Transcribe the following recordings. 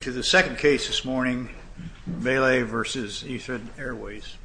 To the second case this morning, Baylay v. Etihad Airways.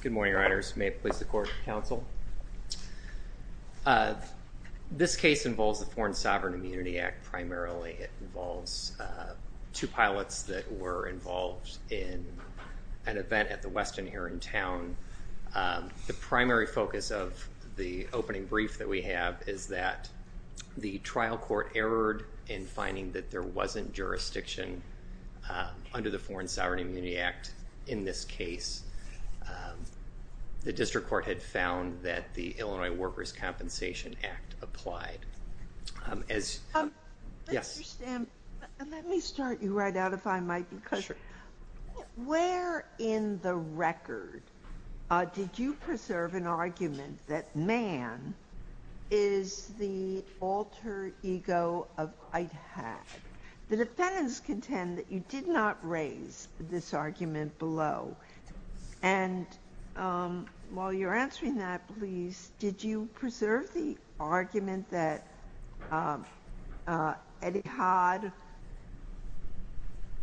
Good morning, Riders. May it please the Court and Counsel. This case involves the Foreign Sovereign Immunity Act, primarily it involves two pilots that were involved in an event at the Westin here in town. The primary focus of the opening brief that we have is that the trial court erred in finding that there wasn't jurisdiction under the Foreign Sovereign Immunity Act in this case. The district court had found that the Illinois Workers' Compensation Act applied. Let me start you right out, if I might, because where in the record did you preserve an argument that man is the alter ego of Etihad? The defendants contend that you did not raise this argument below, and while you're answering that please, did you preserve the argument that Etihad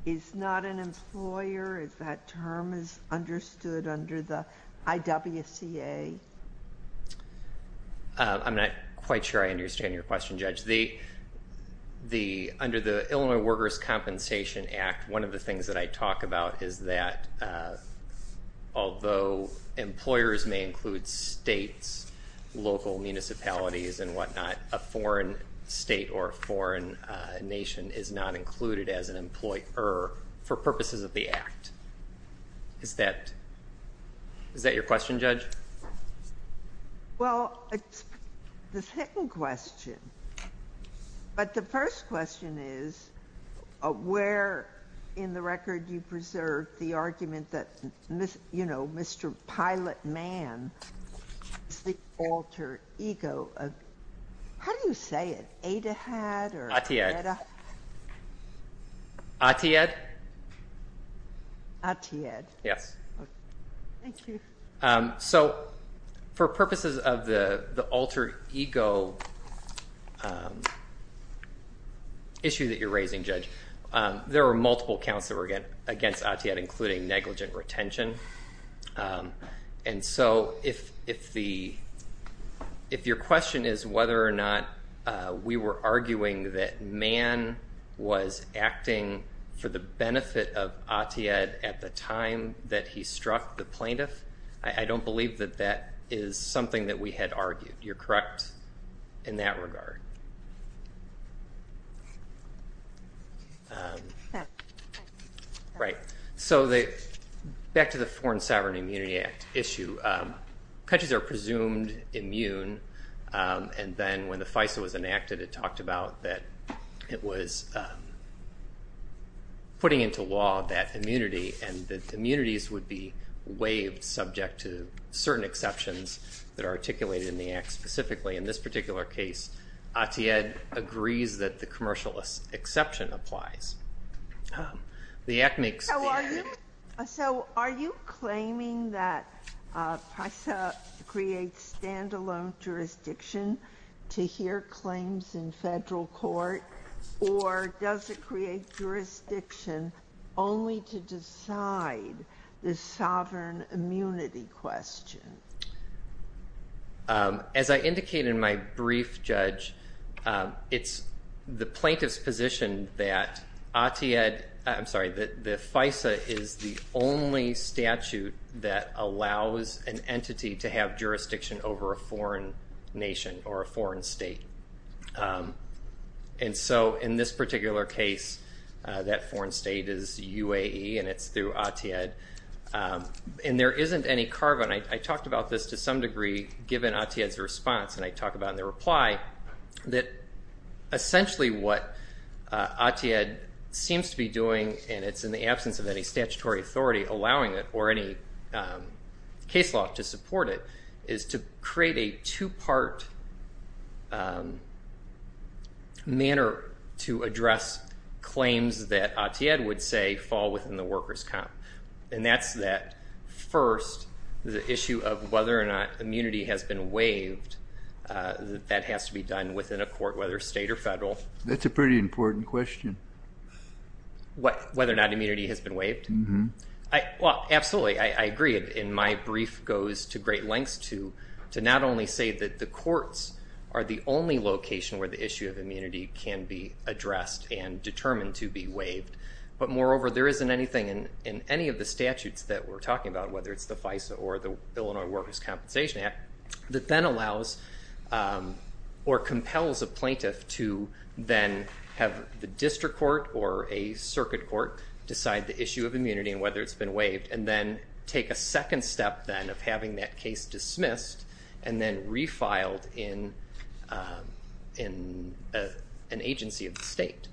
is not an employer, if that term is understood under the IWCA? I'm not quite sure I understand your question, Judge. Under the Illinois Workers' Compensation Act, one of the things that I talk about is that although employers may include states, local municipalities, and whatnot, a foreign state or a foreign nation is not included as an employer for purposes of the act. Is that your question, Judge? Well, it's the second question, but the first question is where in the record do you preserve the argument that Mr. Pilot Man is the alter ego of, how do you say it, Etihad or Etihad? Atiyahd. Atiyahd? Atiyahd. Yes. Thank you. So for purposes of the alter ego issue that you're raising, Judge, there are multiple counts that were against Atiyahd, including negligent retention, and so if your question is whether or not we were arguing that Man was acting for the benefit of Atiyahd at the time that he struck the plaintiff, I don't believe that that is something that we had argued. You're correct in that regard. Right, so back to the Foreign Sovereign Immunity Act issue, countries are presumed immune, and then when the FISA was enacted it talked about that it was putting into law that immunity and that immunities would be waived subject to certain exceptions that are articulated in the act. Specifically, in this particular case, Atiyahd agrees that the commercial exception applies. The ethnics... So are you claiming that FISA creates stand-alone jurisdiction to hear claims in federal court, or does it create jurisdiction only to decide the sovereign immunity question? As I indicated in my brief, Judge, it's the plaintiff's position that Atiyahd, I'm sorry, the FISA is the only statute that allows an entity to have jurisdiction over a foreign nation or a foreign state. And so in this particular case, that foreign state is UAE and it's through Atiyahd, and there isn't any carbon. I talked about this to some degree given Atiyahd's response, and I talk about in the reply, that essentially what Atiyahd seems to be doing, and it's in the absence of any statutory authority allowing it or any case law to support it, is to create a two-part manner to address claims that Atiyahd would say fall within the workers' comp. And that's that, first, the issue of whether or not immunity has been waived, that has to be done within a court, whether state or federal. That's a pretty important question. Whether or not immunity has been waived? Well, absolutely, I agree. In my brief goes to great lengths to not only say that the courts are the only location where the issue of immunity can be addressed and determined to be waived, but moreover there isn't anything in any of the statutes that we're talking about, whether it's the FISA or the Illinois Workers' Compensation Act, that then allows or compels a plaintiff to then have the district court or a circuit court decide the issue of immunity and whether it's been waived, and then take a second step then of having that case dismissed and then refiled in an agency of the state.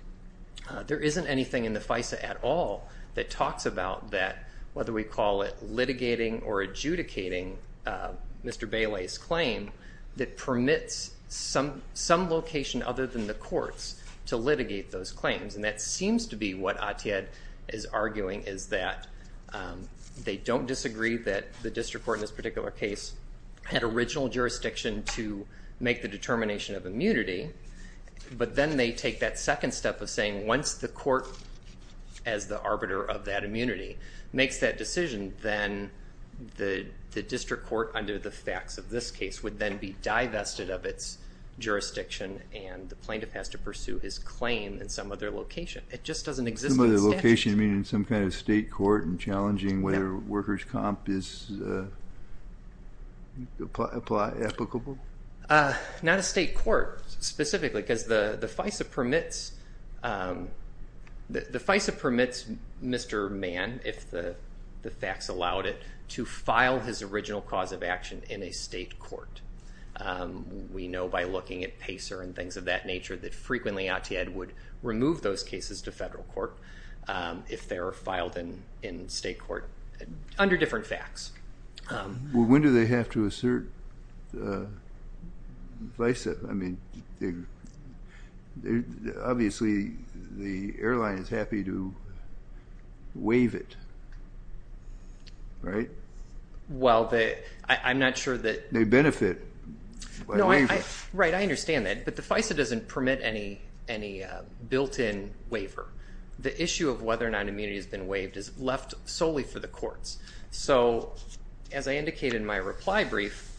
There isn't anything in the FISA at all that talks about that, whether we call it litigating or adjudicating Mr. Bailey's claim, that permits some location other than the courts to litigate those claims. And that seems to be what Atiyahd is arguing is that they don't disagree that the district court in this particular case had original jurisdiction to make the determination of of saying once the court, as the arbiter of that immunity, makes that decision, then the district court under the facts of this case would then be divested of its jurisdiction and the plaintiff has to pursue his claim in some other location. It just doesn't exist in the statute. Some other location, you mean in some kind of state court and challenging whether workers' comp is applicable? Not a state court specifically because the FISA permits Mr. Mann, if the facts allowed it, to file his original cause of action in a state court. We know by looking at PACER and things of that nature that frequently Atiyahd would remove those cases to federal court if they were filed in state court under different facts. Well, when do they have to assert FISA? I mean, obviously the airline is happy to waive it, right? Well, I'm not sure that... They benefit by waiving it. Right, I understand that. But the FISA doesn't permit any built-in waiver. The issue of whether or not immunity has been waived is left solely for the courts. So, as I indicated in my reply brief,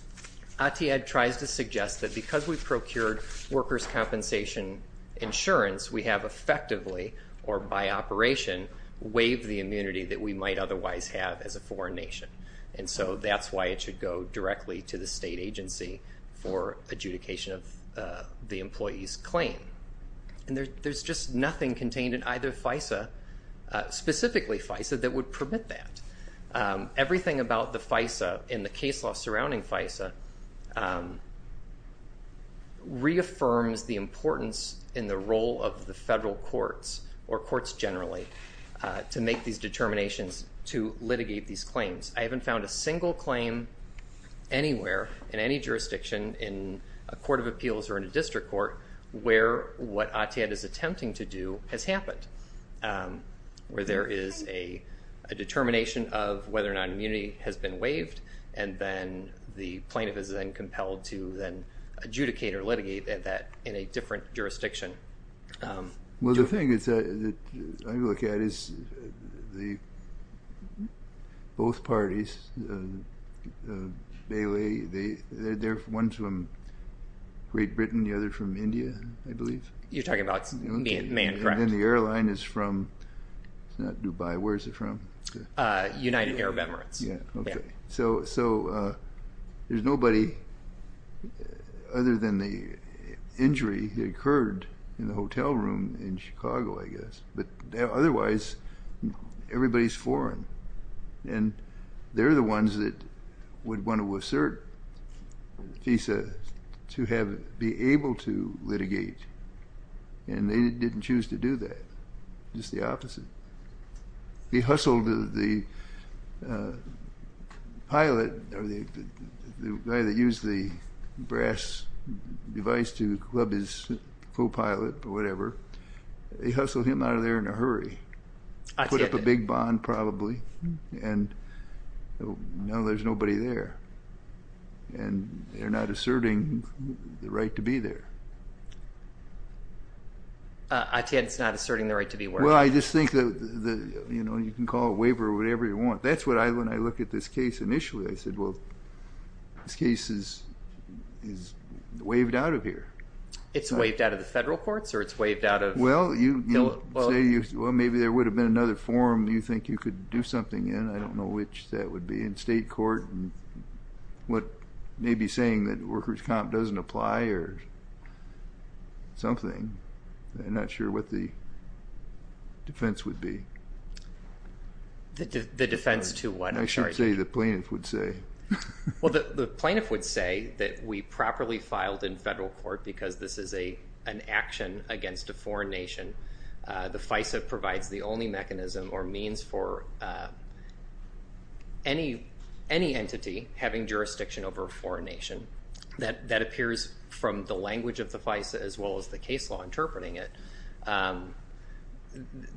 Atiyahd tries to suggest that because we procured workers' compensation insurance, we have effectively, or by operation, waived the immunity that we might otherwise have as a foreign nation. And so that's why it should go directly to the state agency for adjudication of the employee's claim. And there's just nothing contained in either FISA, specifically FISA, that would permit that. Everything about the FISA and the case law surrounding FISA reaffirms the importance in the role of the federal courts, or courts generally, to make these determinations to litigate these claims. I haven't found a single claim anywhere in any jurisdiction in a court of appeals or in a district court where what Atiyahd is attempting to do has happened, where there is a determination of whether or not immunity has been waived, and then the plaintiff is then compelled to then adjudicate or litigate that in a different jurisdiction. Well, the thing that I look at is both parties, Bailey, they're ones from Great Britain and the other from India, I believe. You're talking about the man, correct? And then the airline is from, it's not Dubai, where is it from? United Arab Emirates. Yeah, okay. So there's nobody other than the injury that occurred in the hotel room in Chicago, I guess. But otherwise, everybody's foreign, and they're the ones that would want to assert FISA to be able to litigate, and they didn't choose to do that, just the opposite. He hustled the pilot, or the guy that used the brass device to club his co-pilot or whatever, he hustled him out of there in a hurry, put up a big bond probably, and now there's nobody there. And they're not asserting the right to be there. I take it it's not asserting the right to be where? Well, I just think that you can call it a waiver or whatever you want. That's what I, when I look at this case initially, I said, well, this case is waived out of here. It's waived out of the federal courts, or it's waived out of... Well, you say, well, maybe there would have been another forum you think you could do something in. I don't know which that would be, in state court, and what may be saying that workers' comp doesn't apply or something, I'm not sure what the defense would be. The defense to what? I'm sorry. I should say the plaintiff would say. Well, the plaintiff would say that we properly filed in federal court because this is an action against a foreign nation. The FISA provides the only mechanism or means for any entity having jurisdiction over a foreign nation. That appears from the language of the FISA as well as the case law interpreting it.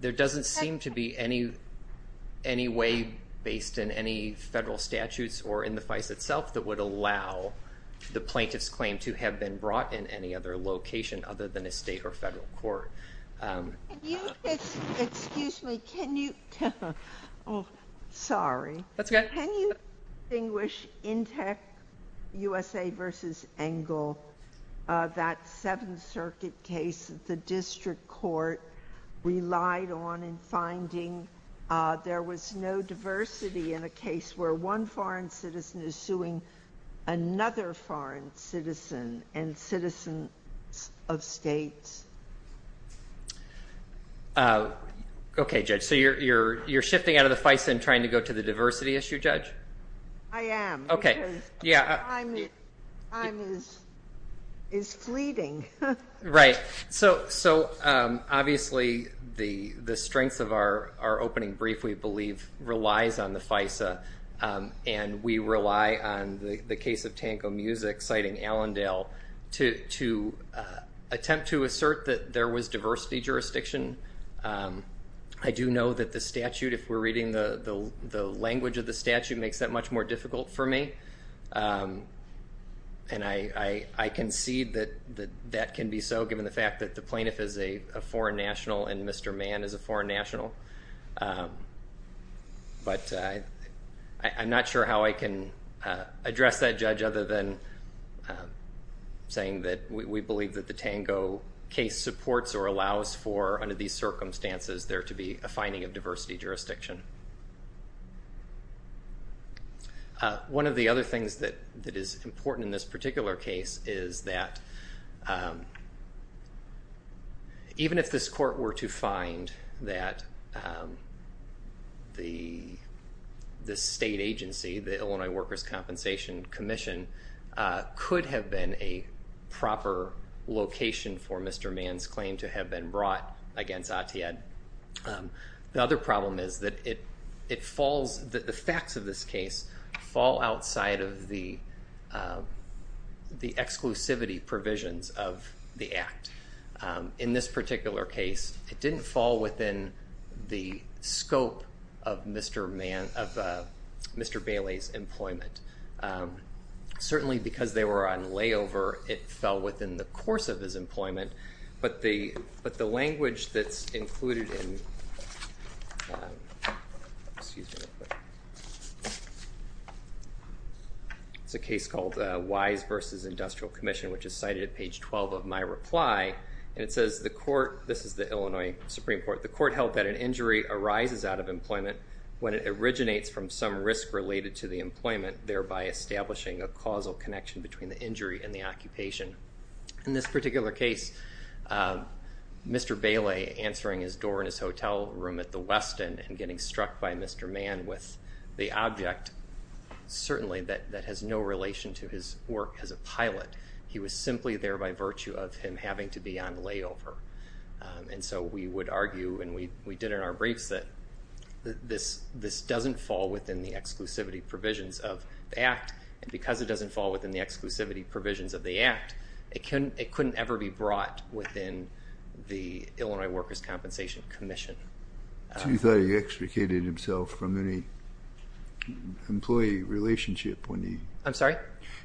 There doesn't seem to be any way based in any federal statutes or in the FISA itself that would allow the plaintiff's claim to have been brought in any other location other than a state or federal court. Excuse me, can you... Sorry. That's okay. Can you distinguish Intec USA versus Engel, that Seventh Circuit case that the district court relied on in finding there was no diversity in a case where one foreign citizen is suing another foreign citizen and citizens of states? Okay, Judge. So you're shifting out of the FISA and trying to go to the diversity issue, Judge? I am. Okay. Because time is fleeting. Right. So obviously the strengths of our opening brief, we believe, relies on the FISA and we rely on the case of Tango Music citing Allendale to attempt to assert that there was diversity jurisdiction. I do know that the statute, if we're reading the language of the statute, makes that much more difficult for me. And I concede that that can be so given the fact that the plaintiff is a foreign national and Mr. Mann is a foreign national. But I'm not sure how I can address that, Judge, other than saying that we believe that the Tango case supports or allows for, under these circumstances, there to be a finding of diversity jurisdiction. One of the other things that is important in this particular case is that even if this state agency, the Illinois Workers' Compensation Commission, could have been a proper location for Mr. Mann's claim to have been brought against ATIAD, the other problem is that it falls, the facts of this case fall outside of the exclusivity provisions of the act. In this particular case, it didn't fall within the scope of Mr. Mann, of Mr. Bailey's employment. Certainly because they were on layover, it fell within the course of his employment, but the language that's included in, excuse me, it's a case called Wise v. Industrial Commission, which is cited at page 12 of my reply, and it says, the court, this is the Illinois Supreme Court, the court held that an injury arises out of employment when it originates from some risk related to the employment, thereby establishing a causal connection between the injury and the occupation. In this particular case, Mr. Bailey answering his door in his hotel room at the West End and getting struck by Mr. Mann with the object, certainly that has no relation to his work as a pilot. He was simply there by virtue of him having to be on layover. And so we would argue, and we did in our briefs, that this doesn't fall within the exclusivity provisions of the act, and because it doesn't fall within the exclusivity provisions of the act, it couldn't ever be brought within the Illinois Workers' Compensation Commission. So you thought he extricated himself from any employee relationship when he... I'm sorry?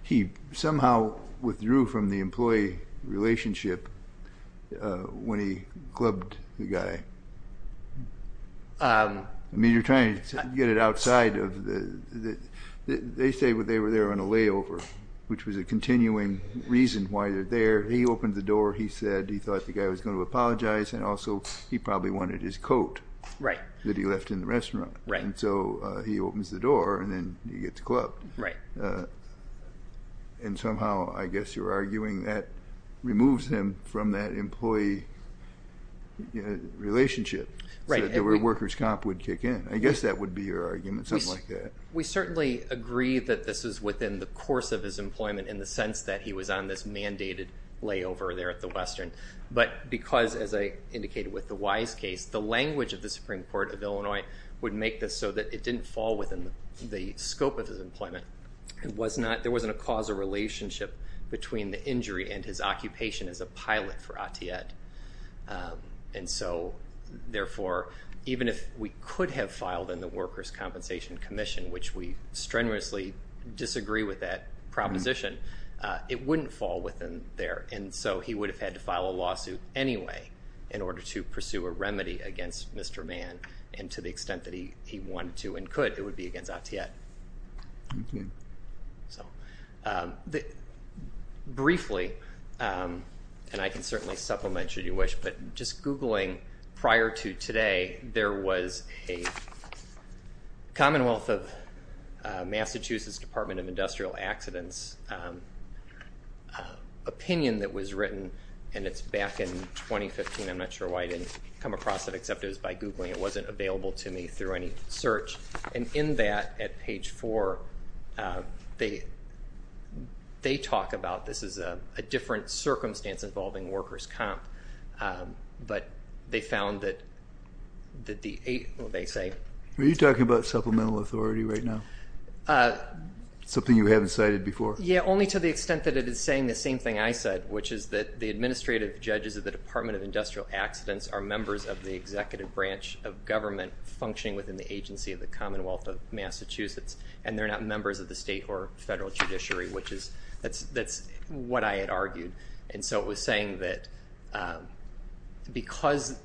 He somehow withdrew from the employee relationship when he clubbed the guy. I mean, you're trying to get it outside of the... They say they were there on a layover, which was a continuing reason why they're there. He opened the door, he said he thought the guy was going to apologize, and also he probably wanted his coat that he left in the restaurant. And so he opens the door, and then he gets clubbed. And somehow, I guess you're arguing that removes him from that employee relationship, so that the Workers' Comp would kick in. I guess that would be your argument, something like that. We certainly agree that this is within the course of his employment in the sense that he was on this mandated layover there at the Western, but because, as I indicated with the Wise case, the language of the Supreme Court of Illinois would make this so that it didn't fall within the scope of his employment. There wasn't a causal relationship between the injury and his occupation as a pilot for ATIET. And so, therefore, even if we could have filed in the Workers' Compensation Commission, which we strenuously disagree with that proposition, it wouldn't fall within there. And so he would have had to file a lawsuit anyway in order to pursue a remedy against Mr. Mann, and to the extent that he wanted to and could, it would be against ATIET. Briefly, and I can certainly supplement should you wish, but just googling prior to today, there was a Commonwealth of Massachusetts Department of Industrial Accidents opinion that was written, and it's back in 2015, I'm not sure why I didn't come across it except it was by googling, it wasn't available to me through any search. And in that, at page four, they talk about this is a different circumstance involving workers' comp, but they found that the, what did they say? Were you talking about supplemental authority right now? Something you haven't cited before? Yeah, only to the extent that it is saying the same thing I said, which is that the administrative judges of the Department of Industrial Accidents are members of the executive branch of government functioning within the agency of the Commonwealth of Massachusetts, and they're not members of the state or federal judiciary, which is, that's what I had argued. And so it was saying that because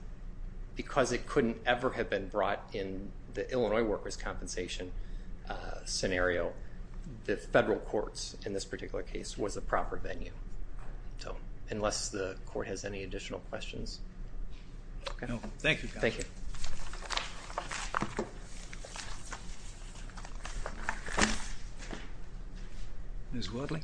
it couldn't ever have been brought in the Illinois workers' compensation scenario, the federal courts, in this particular case, was a proper venue. So, unless the court has any additional questions. Okay. No. Thank you. Thank you. Ms. Woodley?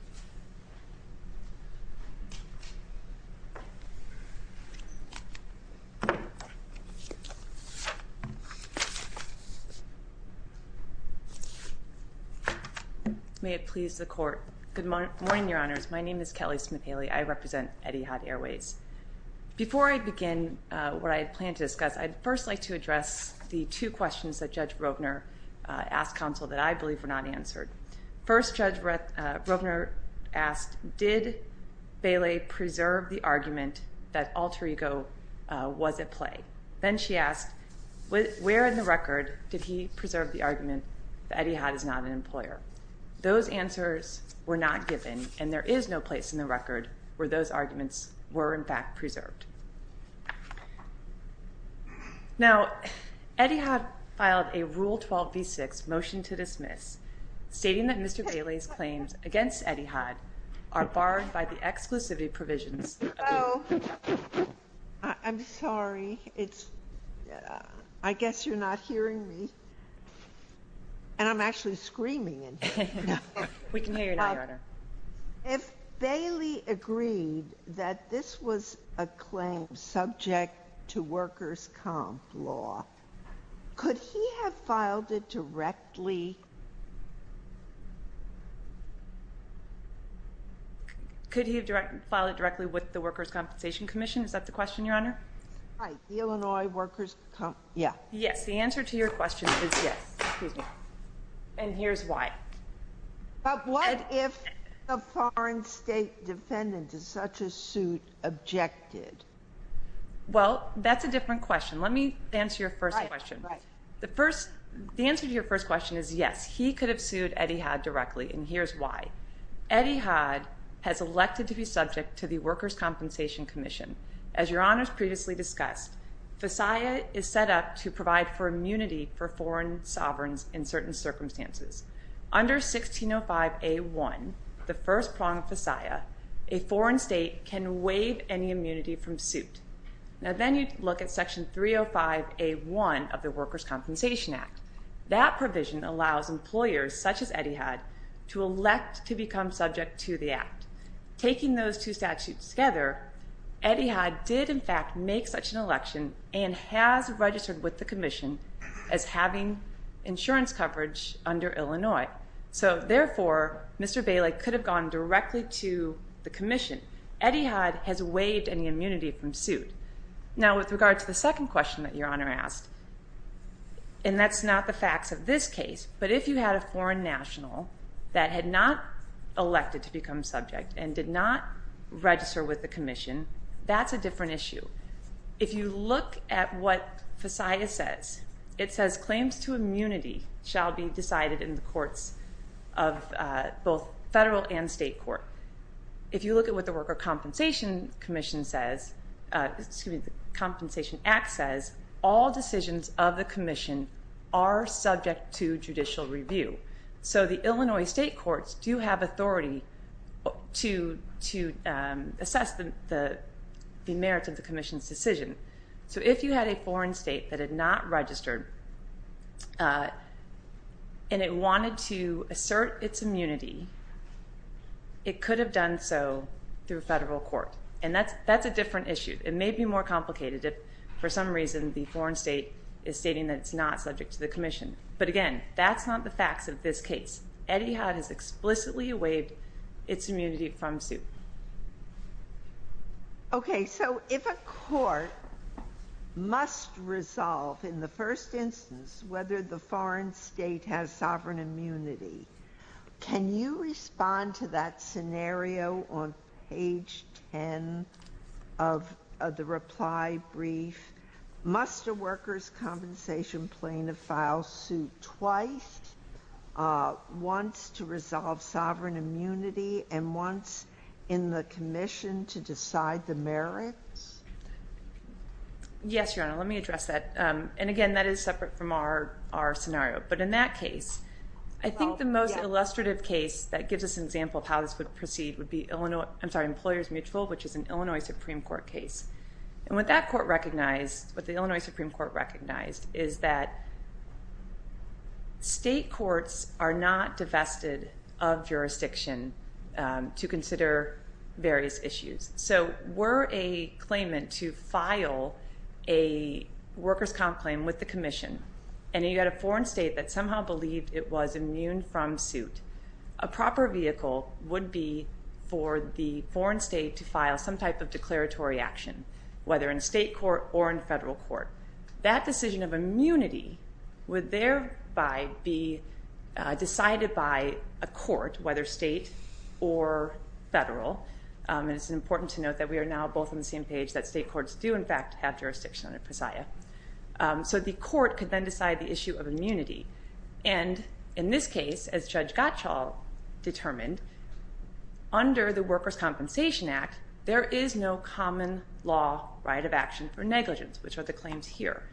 May it please the court. Good morning, Your Honors. My name is Kelly Smith-Haley. I represent Etihad Airways. Before I begin what I had planned to discuss, I'd first like to address the two questions that Judge Rovner asked counsel that I believe were not answered. First, Judge Rovner asked, did Bailey preserve the argument that alter ego was at play? Then she asked, where in the record did he preserve the argument that Etihad is not an employer? Those answers were not given, and there is no place in the record where those arguments were in fact preserved. Now, Etihad filed a Rule 12b-6 motion to dismiss, stating that Mr. Bailey's claims against Etihad are barred by the exclusivity provisions of the— Hello. I'm sorry. It's—I guess you're not hearing me, and I'm actually screaming in here. We can hear you now, Your Honor. If Bailey agreed that this was a claim subject to workers' comp law, could he have filed it directly— Could he have filed it directly with the Workers' Compensation Commission? Is that the question, Your Honor? Right. The Illinois Workers' Comp—yeah. Yes. The answer to your question is yes. Excuse me. And here's why. But what— What if a foreign state defendant to such a suit objected? Well, that's a different question. Let me answer your first question. The first—the answer to your first question is yes. He could have sued Etihad directly, and here's why. Etihad has elected to be subject to the Workers' Compensation Commission. As Your Honors previously discussed, FISAIA is set up to provide for immunity for foreign sovereigns in certain circumstances. Under 1605A1, the first prong of FISAIA, a foreign state can waive any immunity from suit. Now, then you look at Section 305A1 of the Workers' Compensation Act. That provision allows employers, such as Etihad, to elect to become subject to the act. Taking those two statutes together, Etihad did, in fact, make such an election and has insurance coverage under Illinois. So therefore, Mr. Bailey could have gone directly to the Commission. Etihad has waived any immunity from suit. Now, with regard to the second question that Your Honor asked, and that's not the facts of this case, but if you had a foreign national that had not elected to become subject and did not register with the Commission, that's a different issue. If you look at what FISAIA says, it says claims to immunity shall be decided in the courts of both federal and state court. If you look at what the Workers' Compensation Commission says, excuse me, the Compensation Act says, all decisions of the Commission are subject to judicial review. So the Illinois state courts do have authority to assess the merits of the Commission's decision. So if you had a foreign state that had not registered and it wanted to assert its immunity, it could have done so through a federal court. And that's a different issue. It may be more complicated if, for some reason, the foreign state is stating that it's not subject to the Commission. But again, that's not the facts of this case. Etihad has explicitly waived its immunity from suit. Okay. So if a court must resolve, in the first instance, whether the foreign state has sovereign immunity, can you respond to that scenario on page 10 of the reply brief? Must a workers' compensation plaintiff file suit twice, once to resolve sovereign immunity, and once in the Commission to decide the merits? Yes, Your Honor. Let me address that. And again, that is separate from our scenario. But in that case, I think the most illustrative case that gives us an example of how this would proceed would be Illinois, I'm sorry, Employers Mutual, which is an Illinois Supreme Court case. And what that court recognized, what the Illinois Supreme Court recognized, is that state courts are not divested of jurisdiction to consider various issues. So were a claimant to file a workers' comp claim with the Commission, and you had a foreign state that somehow believed it was immune from suit, a proper vehicle would be for the whether in a state court or in a federal court. That decision of immunity would thereby be decided by a court, whether state or federal. And it's important to note that we are now both on the same page, that state courts do in fact have jurisdiction under PSIA. So the court could then decide the issue of immunity. And in this case, as Judge Gottschall determined, under the Workers' Compensation Act, there is no common law right of action for negligence, which are the claims here.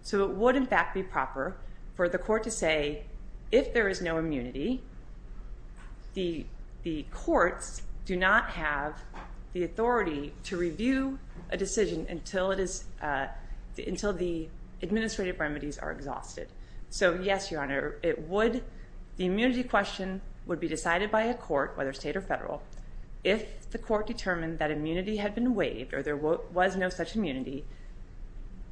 So it would in fact be proper for the court to say, if there is no immunity, the courts do not have the authority to review a decision until it is, until the administrative remedies are exhausted. So yes, Your Honor, it would, the immunity question would be decided by a court, whether state or federal. If the court determined that immunity had been waived or there was no such immunity,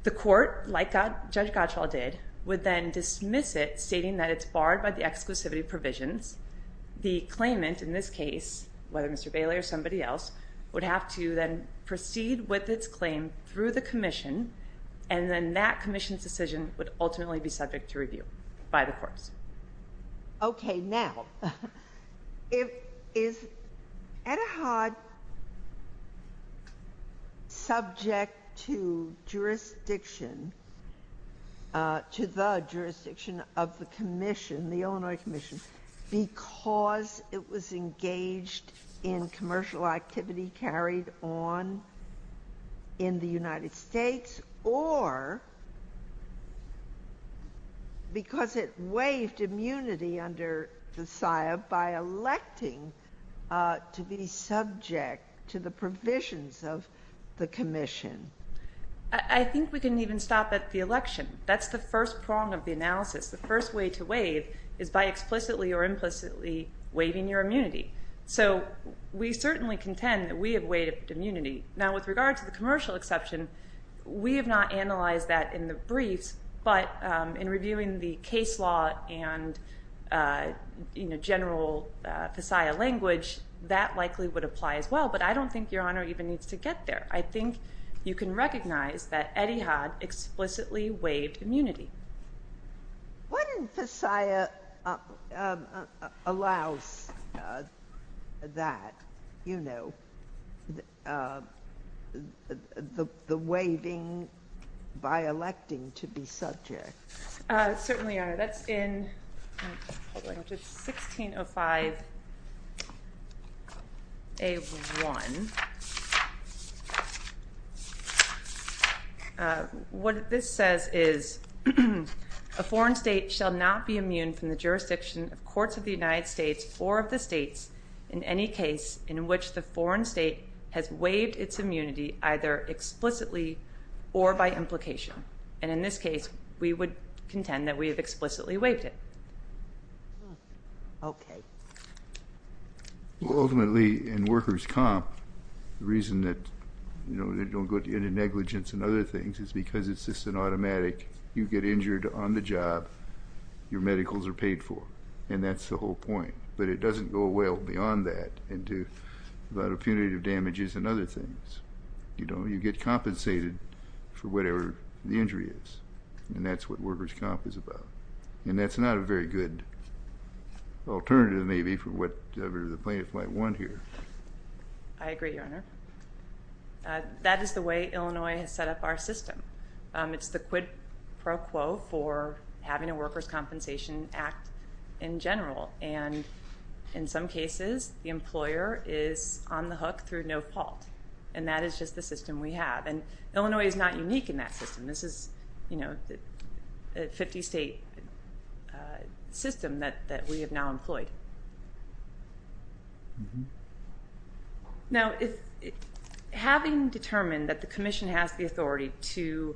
the court, like Judge Gottschall did, would then dismiss it, stating that it's barred by the exclusivity provisions. The claimant in this case, whether Mr. Bailey or somebody else, would have to then proceed with its claim through the Commission, and then that Commission's decision would ultimately be subject to review by the courts. Okay, now, is Etihad subject to jurisdiction, to the jurisdiction of the Commission, the Illinois Commission, because it was engaged in commercial activity carried on in the United States, and it was waived immunity under the SIAB by electing to be subject to the provisions of the Commission? I think we can even stop at the election. That's the first prong of the analysis. The first way to waive is by explicitly or implicitly waiving your immunity. So we certainly contend that we have waived immunity. Now with regard to the commercial exception, we have not analyzed that in the briefs, but in reviewing the case law and general FISAIA language, that likely would apply as well, but I don't think Your Honor even needs to get there. I think you can recognize that Etihad explicitly waived immunity. What in FISAIA allows that, you know, the waiving by electing to be subject? Certainly, Your Honor, that's in 1605 A.1. What this says is, a foreign state shall not be immune from the jurisdiction of courts of the United States or of the states in any case in which the foreign state has waived its immunity either explicitly or by implication. And in this case, we would contend that we have explicitly waived it. Okay. Ultimately, in workers' comp, the reason that, you know, they don't go to any negligence and other things is because it's just an automatic, you get injured on the job, your medicals are paid for. And that's the whole point. But it doesn't go well beyond that into a lot of punitive damages and other things. You know, you get compensated for whatever the injury is, and that's what workers' comp is about. And that's not a very good alternative maybe for whatever the plaintiffs might want here. I agree, Your Honor. That is the way Illinois has set up our system. It's the quid pro quo for having a workers' compensation act in general. And in some cases, the employer is on the hook through no fault. And that is just the system we have. And Illinois is not unique in that system. This is, you know, a 50-state system that we have now employed. Now, having determined that the Commission has the authority to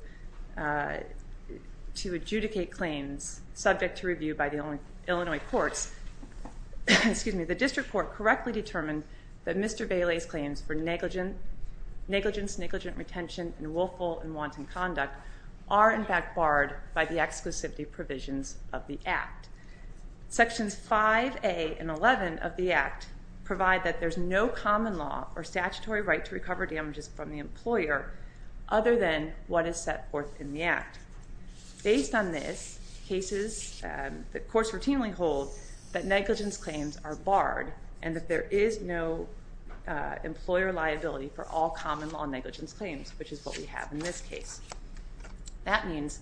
adjudicate claims subject to review by the Illinois courts, excuse me, the district court correctly determined that Mr. Bailey's claims for negligence, negligent retention, and willful and wanton conduct are, in fact, barred by the exclusivity provisions of the Act. Sections 5A and 11 of the Act provide that there's no common law or statutory right to recover damages from the employer other than what is set forth in the Act. Based on this, cases, the courts routinely hold that negligence claims are barred and that there is no employer liability for all common law negligence claims, which is what we have in this case. That means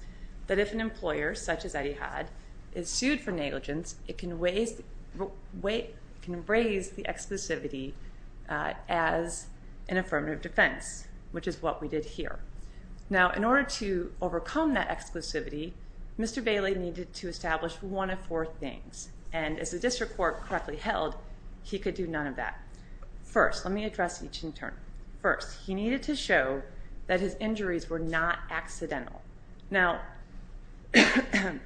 that if an employer, such as Etihad, is sued for negligence, it can raise the exclusivity as an affirmative defense, which is what we did here. Now, in order to overcome that exclusivity, Mr. Bailey needed to establish one of four things. And as the district court correctly held, he could do none of that. First, let me address each in turn. First, he needed to show that his injuries were not accidental. Now,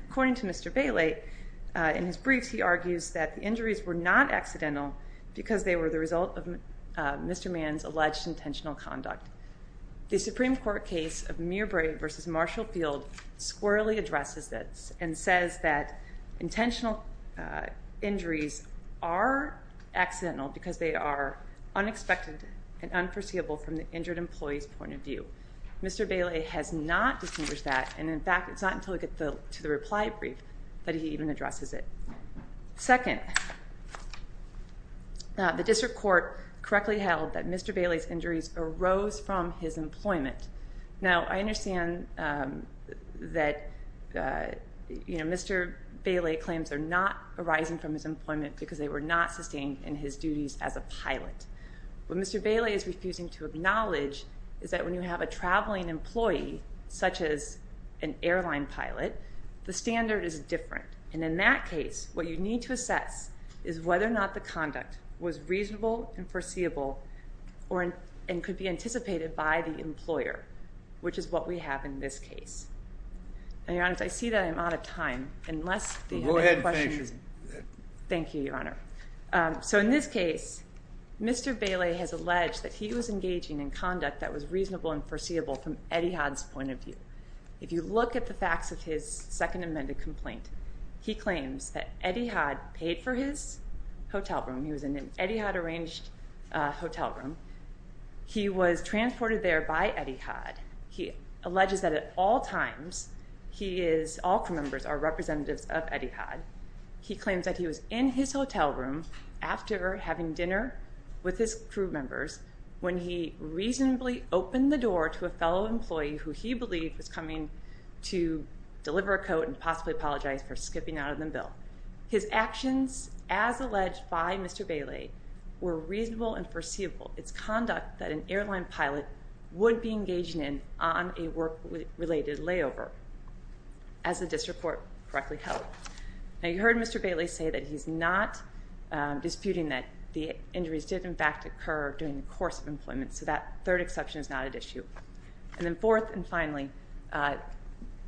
according to Mr. Bailey, in his briefs he argues that the injuries were not accidental because they were the result of Mr. Mann's alleged intentional conduct. The Supreme Court case of Mirbrae v. Marshall Field squarely addresses this and says that intentional injuries are accidental because they are unexpected and unforeseeable from the injured employee's point of view. Mr. Bailey has not distinguished that, and in fact, it's not until we get to the reply brief that he even addresses it. Second, the district court correctly held that Mr. Bailey's injuries arose from his employment. Now, I understand that Mr. Bailey claims they're not arising from his employment because they were not sustained in his duties as a pilot. What Mr. Bailey is refusing to acknowledge is that when you have a traveling employee, such as an airline pilot, the standard is different. And in that case, what you need to assess is whether or not the conduct was reasonable and foreseeable and could be anticipated by the employer, which is what we have in this case. Now, Your Honor, I see that I'm out of time. Go ahead, thank you. Thank you, Your Honor. So, in this case, Mr. Bailey has alleged that he was engaging in conduct that was reasonable and foreseeable from Eddie Hodge's point of view. If you look at the facts of his second amended complaint, he claims that Eddie Hodge paid for his hotel room. He was in an Eddie Hodge-arranged hotel room. He was transported there by Eddie Hodge. He alleges that at all times, he is, all crew members are representatives of Eddie Hodge. He claims that he was in his hotel room after having dinner with his crew members when he reasonably opened the door to a fellow employee who he believed was coming to deliver a coat and possibly apologize for skipping out of the bill. His actions, as alleged by Mr. Bailey, were reasonable and foreseeable. It's conduct that an airline pilot would be engaging in on a work-related layover, as the district court correctly held. Now, you heard Mr. Bailey say that he's not disputing that the injuries did, in fact, occur during the course of employment. So that third exception is not at issue. And then fourth and finally,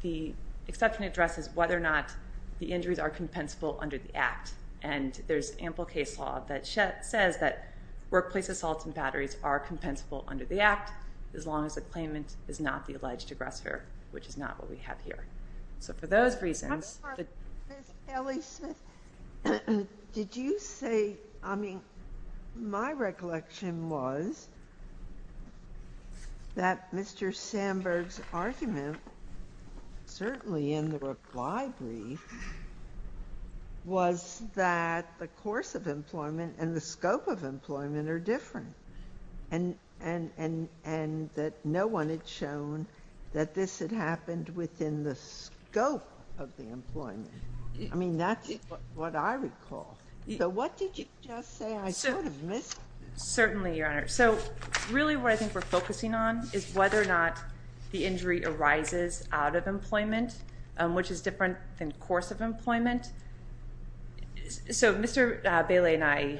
the exception addresses whether or not the injuries are compensable under the Act. And there's ample case law that says that workplace assaults and batteries are compensable under the Act, as long as the claimant is not the alleged aggressor, which is not what we have here. So for those reasons... Ms. Kelly-Smith, did you say, I mean, my recollection was that Mr. Sandberg's argument, certainly in the reply brief, was that the course of employment and the scope of employment are different. And that no one had shown that this had happened within the scope of the employment. I mean, that's what I recall. So what did you just say I sort of missed? Certainly, Your Honor. So really what I think we're focusing on is whether or not the injury arises out of employment, which is different than course of employment. So Mr. Bailey and I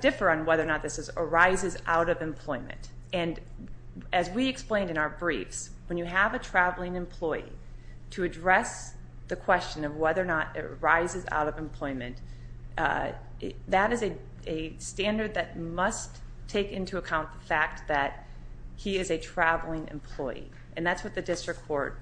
differ on whether or not this arises out of employment. And as we explained in our briefs, when you have a traveling employee, to address the question of whether or not it arises out of employment, that is a standard that must take into account the fact that he is a traveling employee. And that's what the district court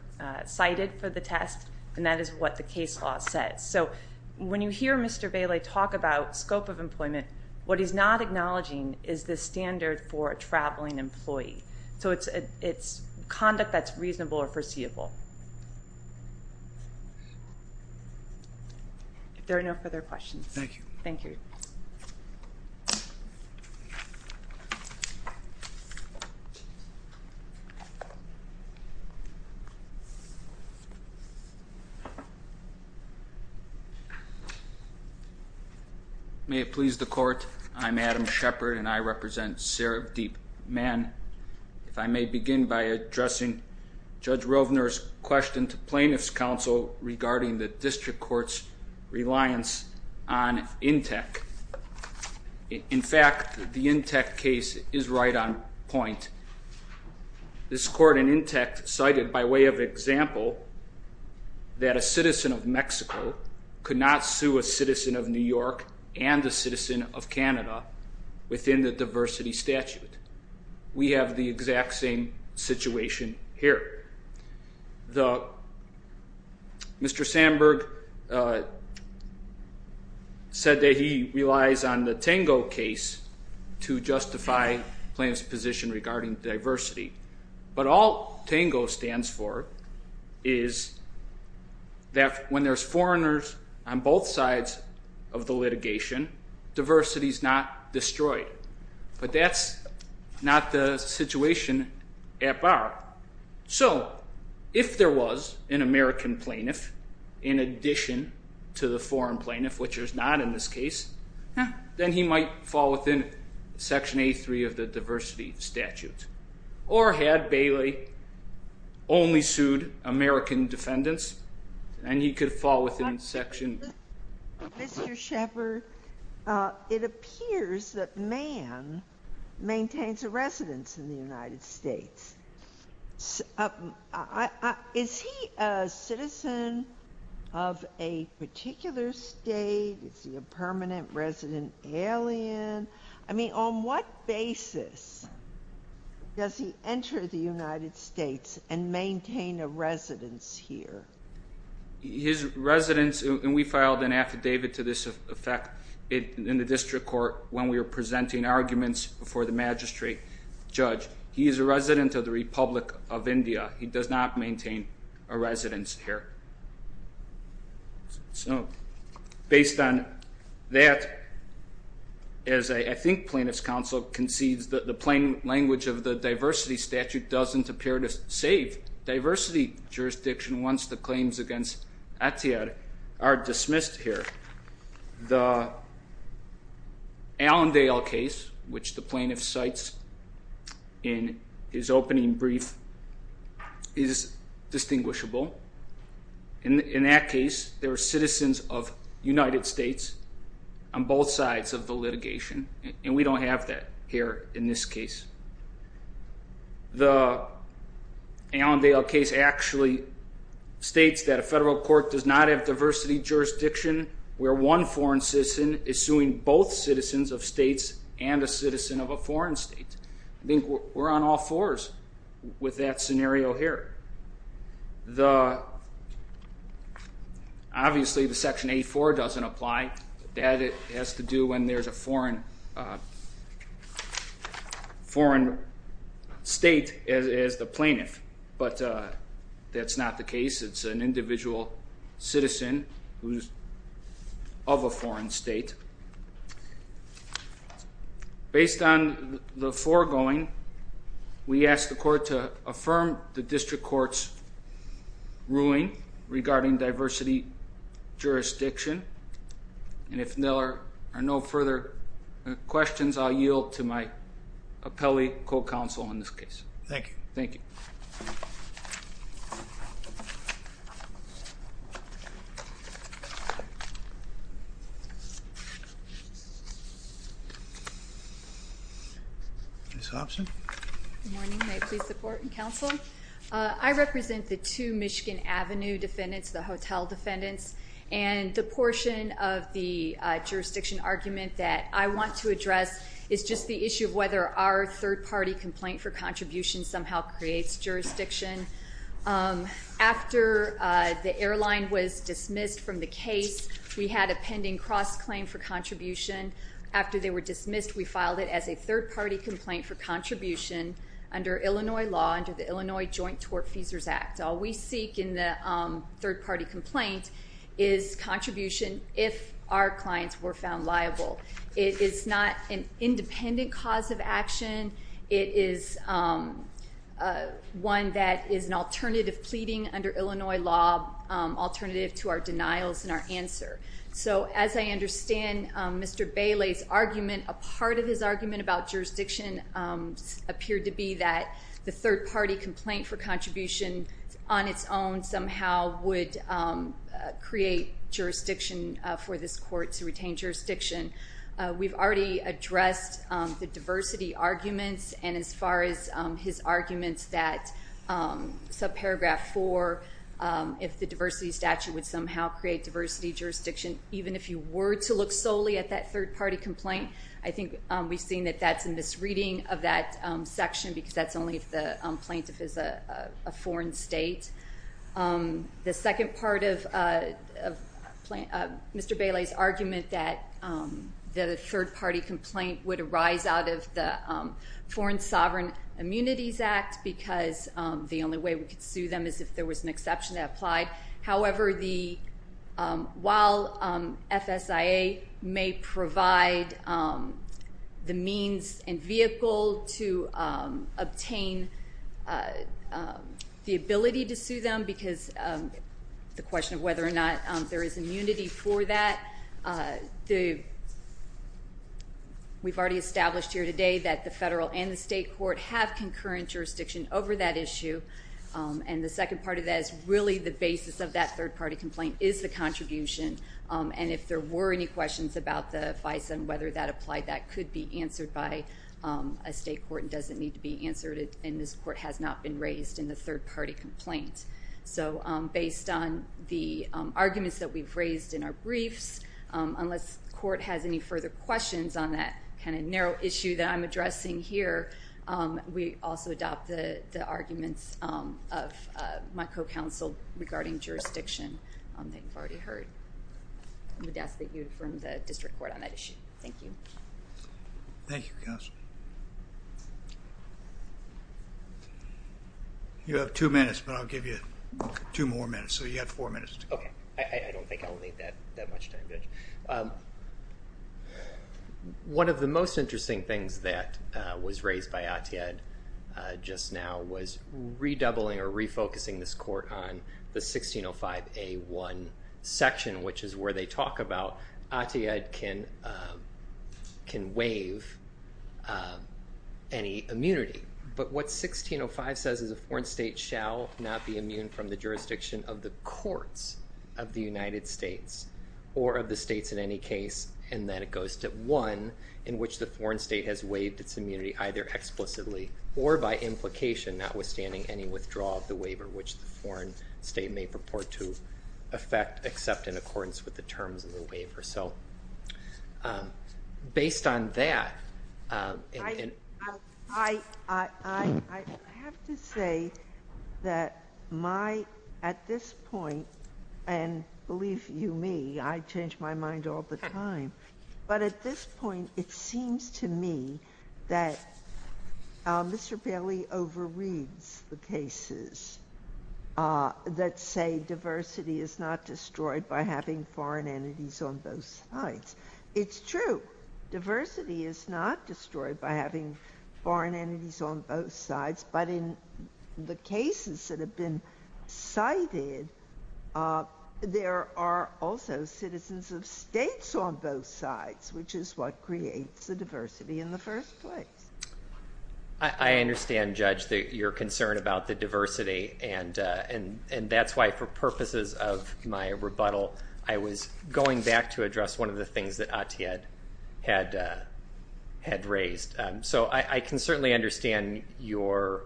cited for the test, and that is what the case law says. So when you hear Mr. Bailey talk about scope of employment, what he's not acknowledging is the standard for a traveling employee. So it's conduct that's reasonable or foreseeable. If there are no further questions. Thank you. Thank you. Thank you. May it please the court. I'm Adam Shepard, and I represent Sareb Deep Man. If I may begin by addressing Judge Rovner's question to plaintiff's counsel regarding the district court's reliance on INTEC. In fact, the INTEC case is right on point. This court in INTEC cited, by way of example, that a citizen of Mexico could not sue a citizen of New York and a citizen of Canada within the diversity statute. We have the exact same situation here. Mr. Sandberg said that he relies on the Tango case to justify plaintiff's position regarding diversity. But all Tango stands for is that when there's foreigners on both sides of the litigation, diversity is not destroyed. But that's not the situation at bar. So if there was an American plaintiff in addition to the foreign plaintiff, which is not in this case, then he might fall within Section A3 of the diversity statute. Or had Bailey only sued American defendants, then he could fall within Section A3. Mr. Shepard, it appears that Mann maintains a residence in the United States. Is he a citizen of a particular state? Is he a permanent resident alien? I mean, on what basis does he enter the United States and maintain a residence here? His residence, and we filed an affidavit to this effect in the district court when we were presenting arguments before the magistrate judge. He is a resident of the Republic of India. He does not maintain a residence here. Based on that, as I think plaintiff's counsel concedes, the plain language of the diversity statute doesn't appear to save diversity jurisdiction once the claims against Etienne are dismissed here. The Allendale case, which the plaintiff cites in his opening brief, is distinguishable. In that case, there are citizens of United States on both sides of the litigation, and we don't have that here in this case. The Allendale case actually states that a federal court does not have diversity jurisdiction where one foreign citizen is suing both citizens of states and a citizen of a foreign state. I think we're on all fours with that scenario here. Obviously, the Section 84 doesn't apply. That has to do when there's a foreign state as the plaintiff, but that's not the case. It's an individual citizen who's of a foreign state. Based on the foregoing, we ask the court to affirm the district court's ruling regarding diversity jurisdiction, and if there are no further questions, I'll yield to my appellee co-counsel in this case. Thank you. Thank you. Thank you. Ms. Hobson? Good morning. May I please support the counsel? I represent the two Michigan Avenue defendants, the hotel defendants, and the portion of the jurisdiction argument that I want to address is just the issue of whether our third-party complaint for contribution somehow creates jurisdiction. After the airline was dismissed from the case, we had a pending cross-claim for contribution. After they were dismissed, we filed it as a third-party complaint for contribution under Illinois law, under the Illinois Joint Tort Feasors Act. All we seek in the third-party complaint is contribution if our clients were found liable. It is not an independent cause of action. It is one that is an alternative pleading under Illinois law, alternative to our denials and our answer. So as I understand Mr. Bailey's argument, a part of his argument about jurisdiction appeared to be that the third-party complaint for contribution on its own somehow would create jurisdiction for this court to retain jurisdiction. We've already addressed the diversity arguments and as far as his arguments that subparagraph 4, if the diversity statute would somehow create diversity jurisdiction, even if you were to look solely at that third-party complaint, I think we've seen that that's a misreading of that section because that's only if the plaintiff is a foreign state. The second part of Mr. Bailey's argument that the third-party complaint would arise out of the Foreign Sovereign Immunities Act because the only way we could sue them is if there was an exception that applied. However, while FSIA may provide the means and vehicle to obtain the ability to sue them because the question of whether or not there is immunity for that, we've already established here today that the federal and the state court have concurrent jurisdiction over that issue. And the second part of that is really the basis of that third-party complaint is the contribution. And if there were any questions about the FISA and whether that applied, that could be answered by a state court and doesn't need to be answered and this court has not been raised in the third-party complaint. So based on the arguments that we've raised in our briefs, unless the court has any further questions on that kind of narrow issue that I'm addressing here, we also adopt the arguments of my co-counsel regarding jurisdiction that you've already heard. I would ask that you confirm the district court on that issue. Thank you. Thank you, counsel. You have two minutes, but I'll give you two more minutes. So you have four minutes to go. Okay. I don't think I'll need that much time, Judge. One of the most interesting things that was raised by Atiyah just now was redoubling or refocusing this court on the 1605A1 section, which is where they talk about Atiyah can waive any immunity. But what 1605 says is a foreign state shall not be immune from the jurisdiction of the courts of the United States or of the states in any case. And then it goes to one in which the foreign state has waived its immunity either explicitly or by implication notwithstanding any withdrawal of the waiver which the foreign state may purport to affect except in accordance with the terms of the waiver. So based on that... I have to say that my, at this point, and believe you me, I change my mind all the time, but at this point, it seems to me that Mr. Bailey overreads the cases that say diversity is not destroyed by having foreign entities on both sides. It's true. Diversity is not destroyed by having foreign entities on both sides, but in the cases that have been cited, there are also citizens of states on both sides, which is what creates the diversity in the first place. I understand, Judge, your concern about the diversity, and that's why for purposes of my rebuttal, I was going back to address one of the things that Atiyah had raised. So I can certainly understand your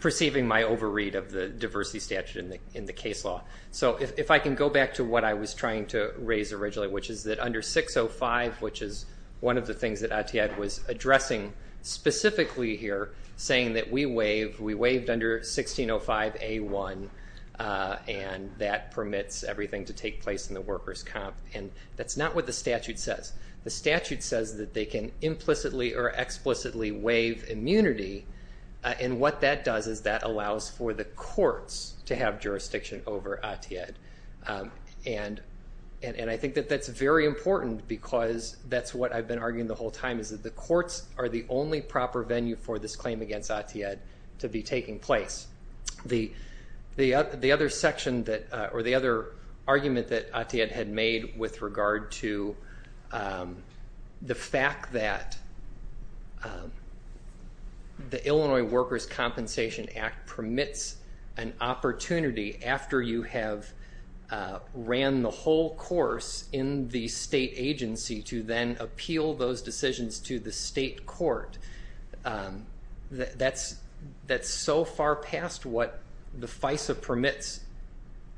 perceiving my overread of the diversity statute in the case law. So if I can go back to what I was trying to raise originally, which is that under 605, which is one of the things that Atiyah was addressing specifically here, saying that we waived under 1605A1, and that permits everything to take place in the workers' comp. And that's not what the statute says. The statute says that they can implicitly or explicitly waive immunity, and what that does is that allows for the courts to have jurisdiction over Atiyah. And I think that that's very important because that's what I've been arguing the whole time, is that the courts are the only proper venue for this claim against Atiyah to be taking place. The other argument that Atiyah had made with regard to the fact that the Illinois Workers' Compensation Act permits an opportunity after you have ran the whole course in the state agency to then appeal those decisions to the state court, that's so far past what the FISA permits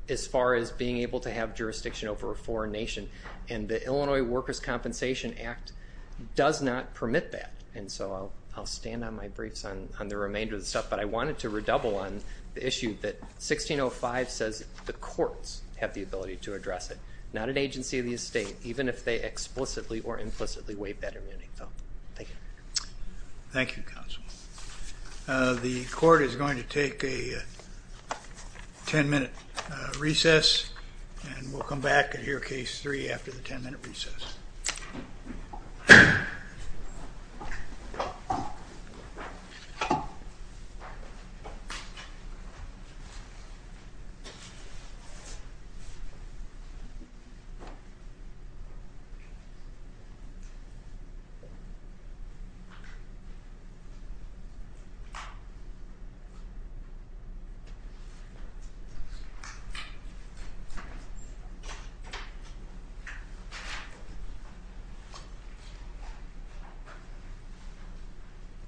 as far as being able to have jurisdiction over a foreign nation, and the Illinois Workers' Compensation Act does not permit that. And so I'll stand on my briefs on the remainder of the stuff, but I wanted to redouble on the issue that 1605 says the courts have the ability to address it, not an agency of the estate, even if they explicitly or implicitly waive that immunity. Thank you. Thank you, counsel. The court is going to take a 10-minute recess, and we'll come back and hear Case 3 after the 10-minute recess. Thank you.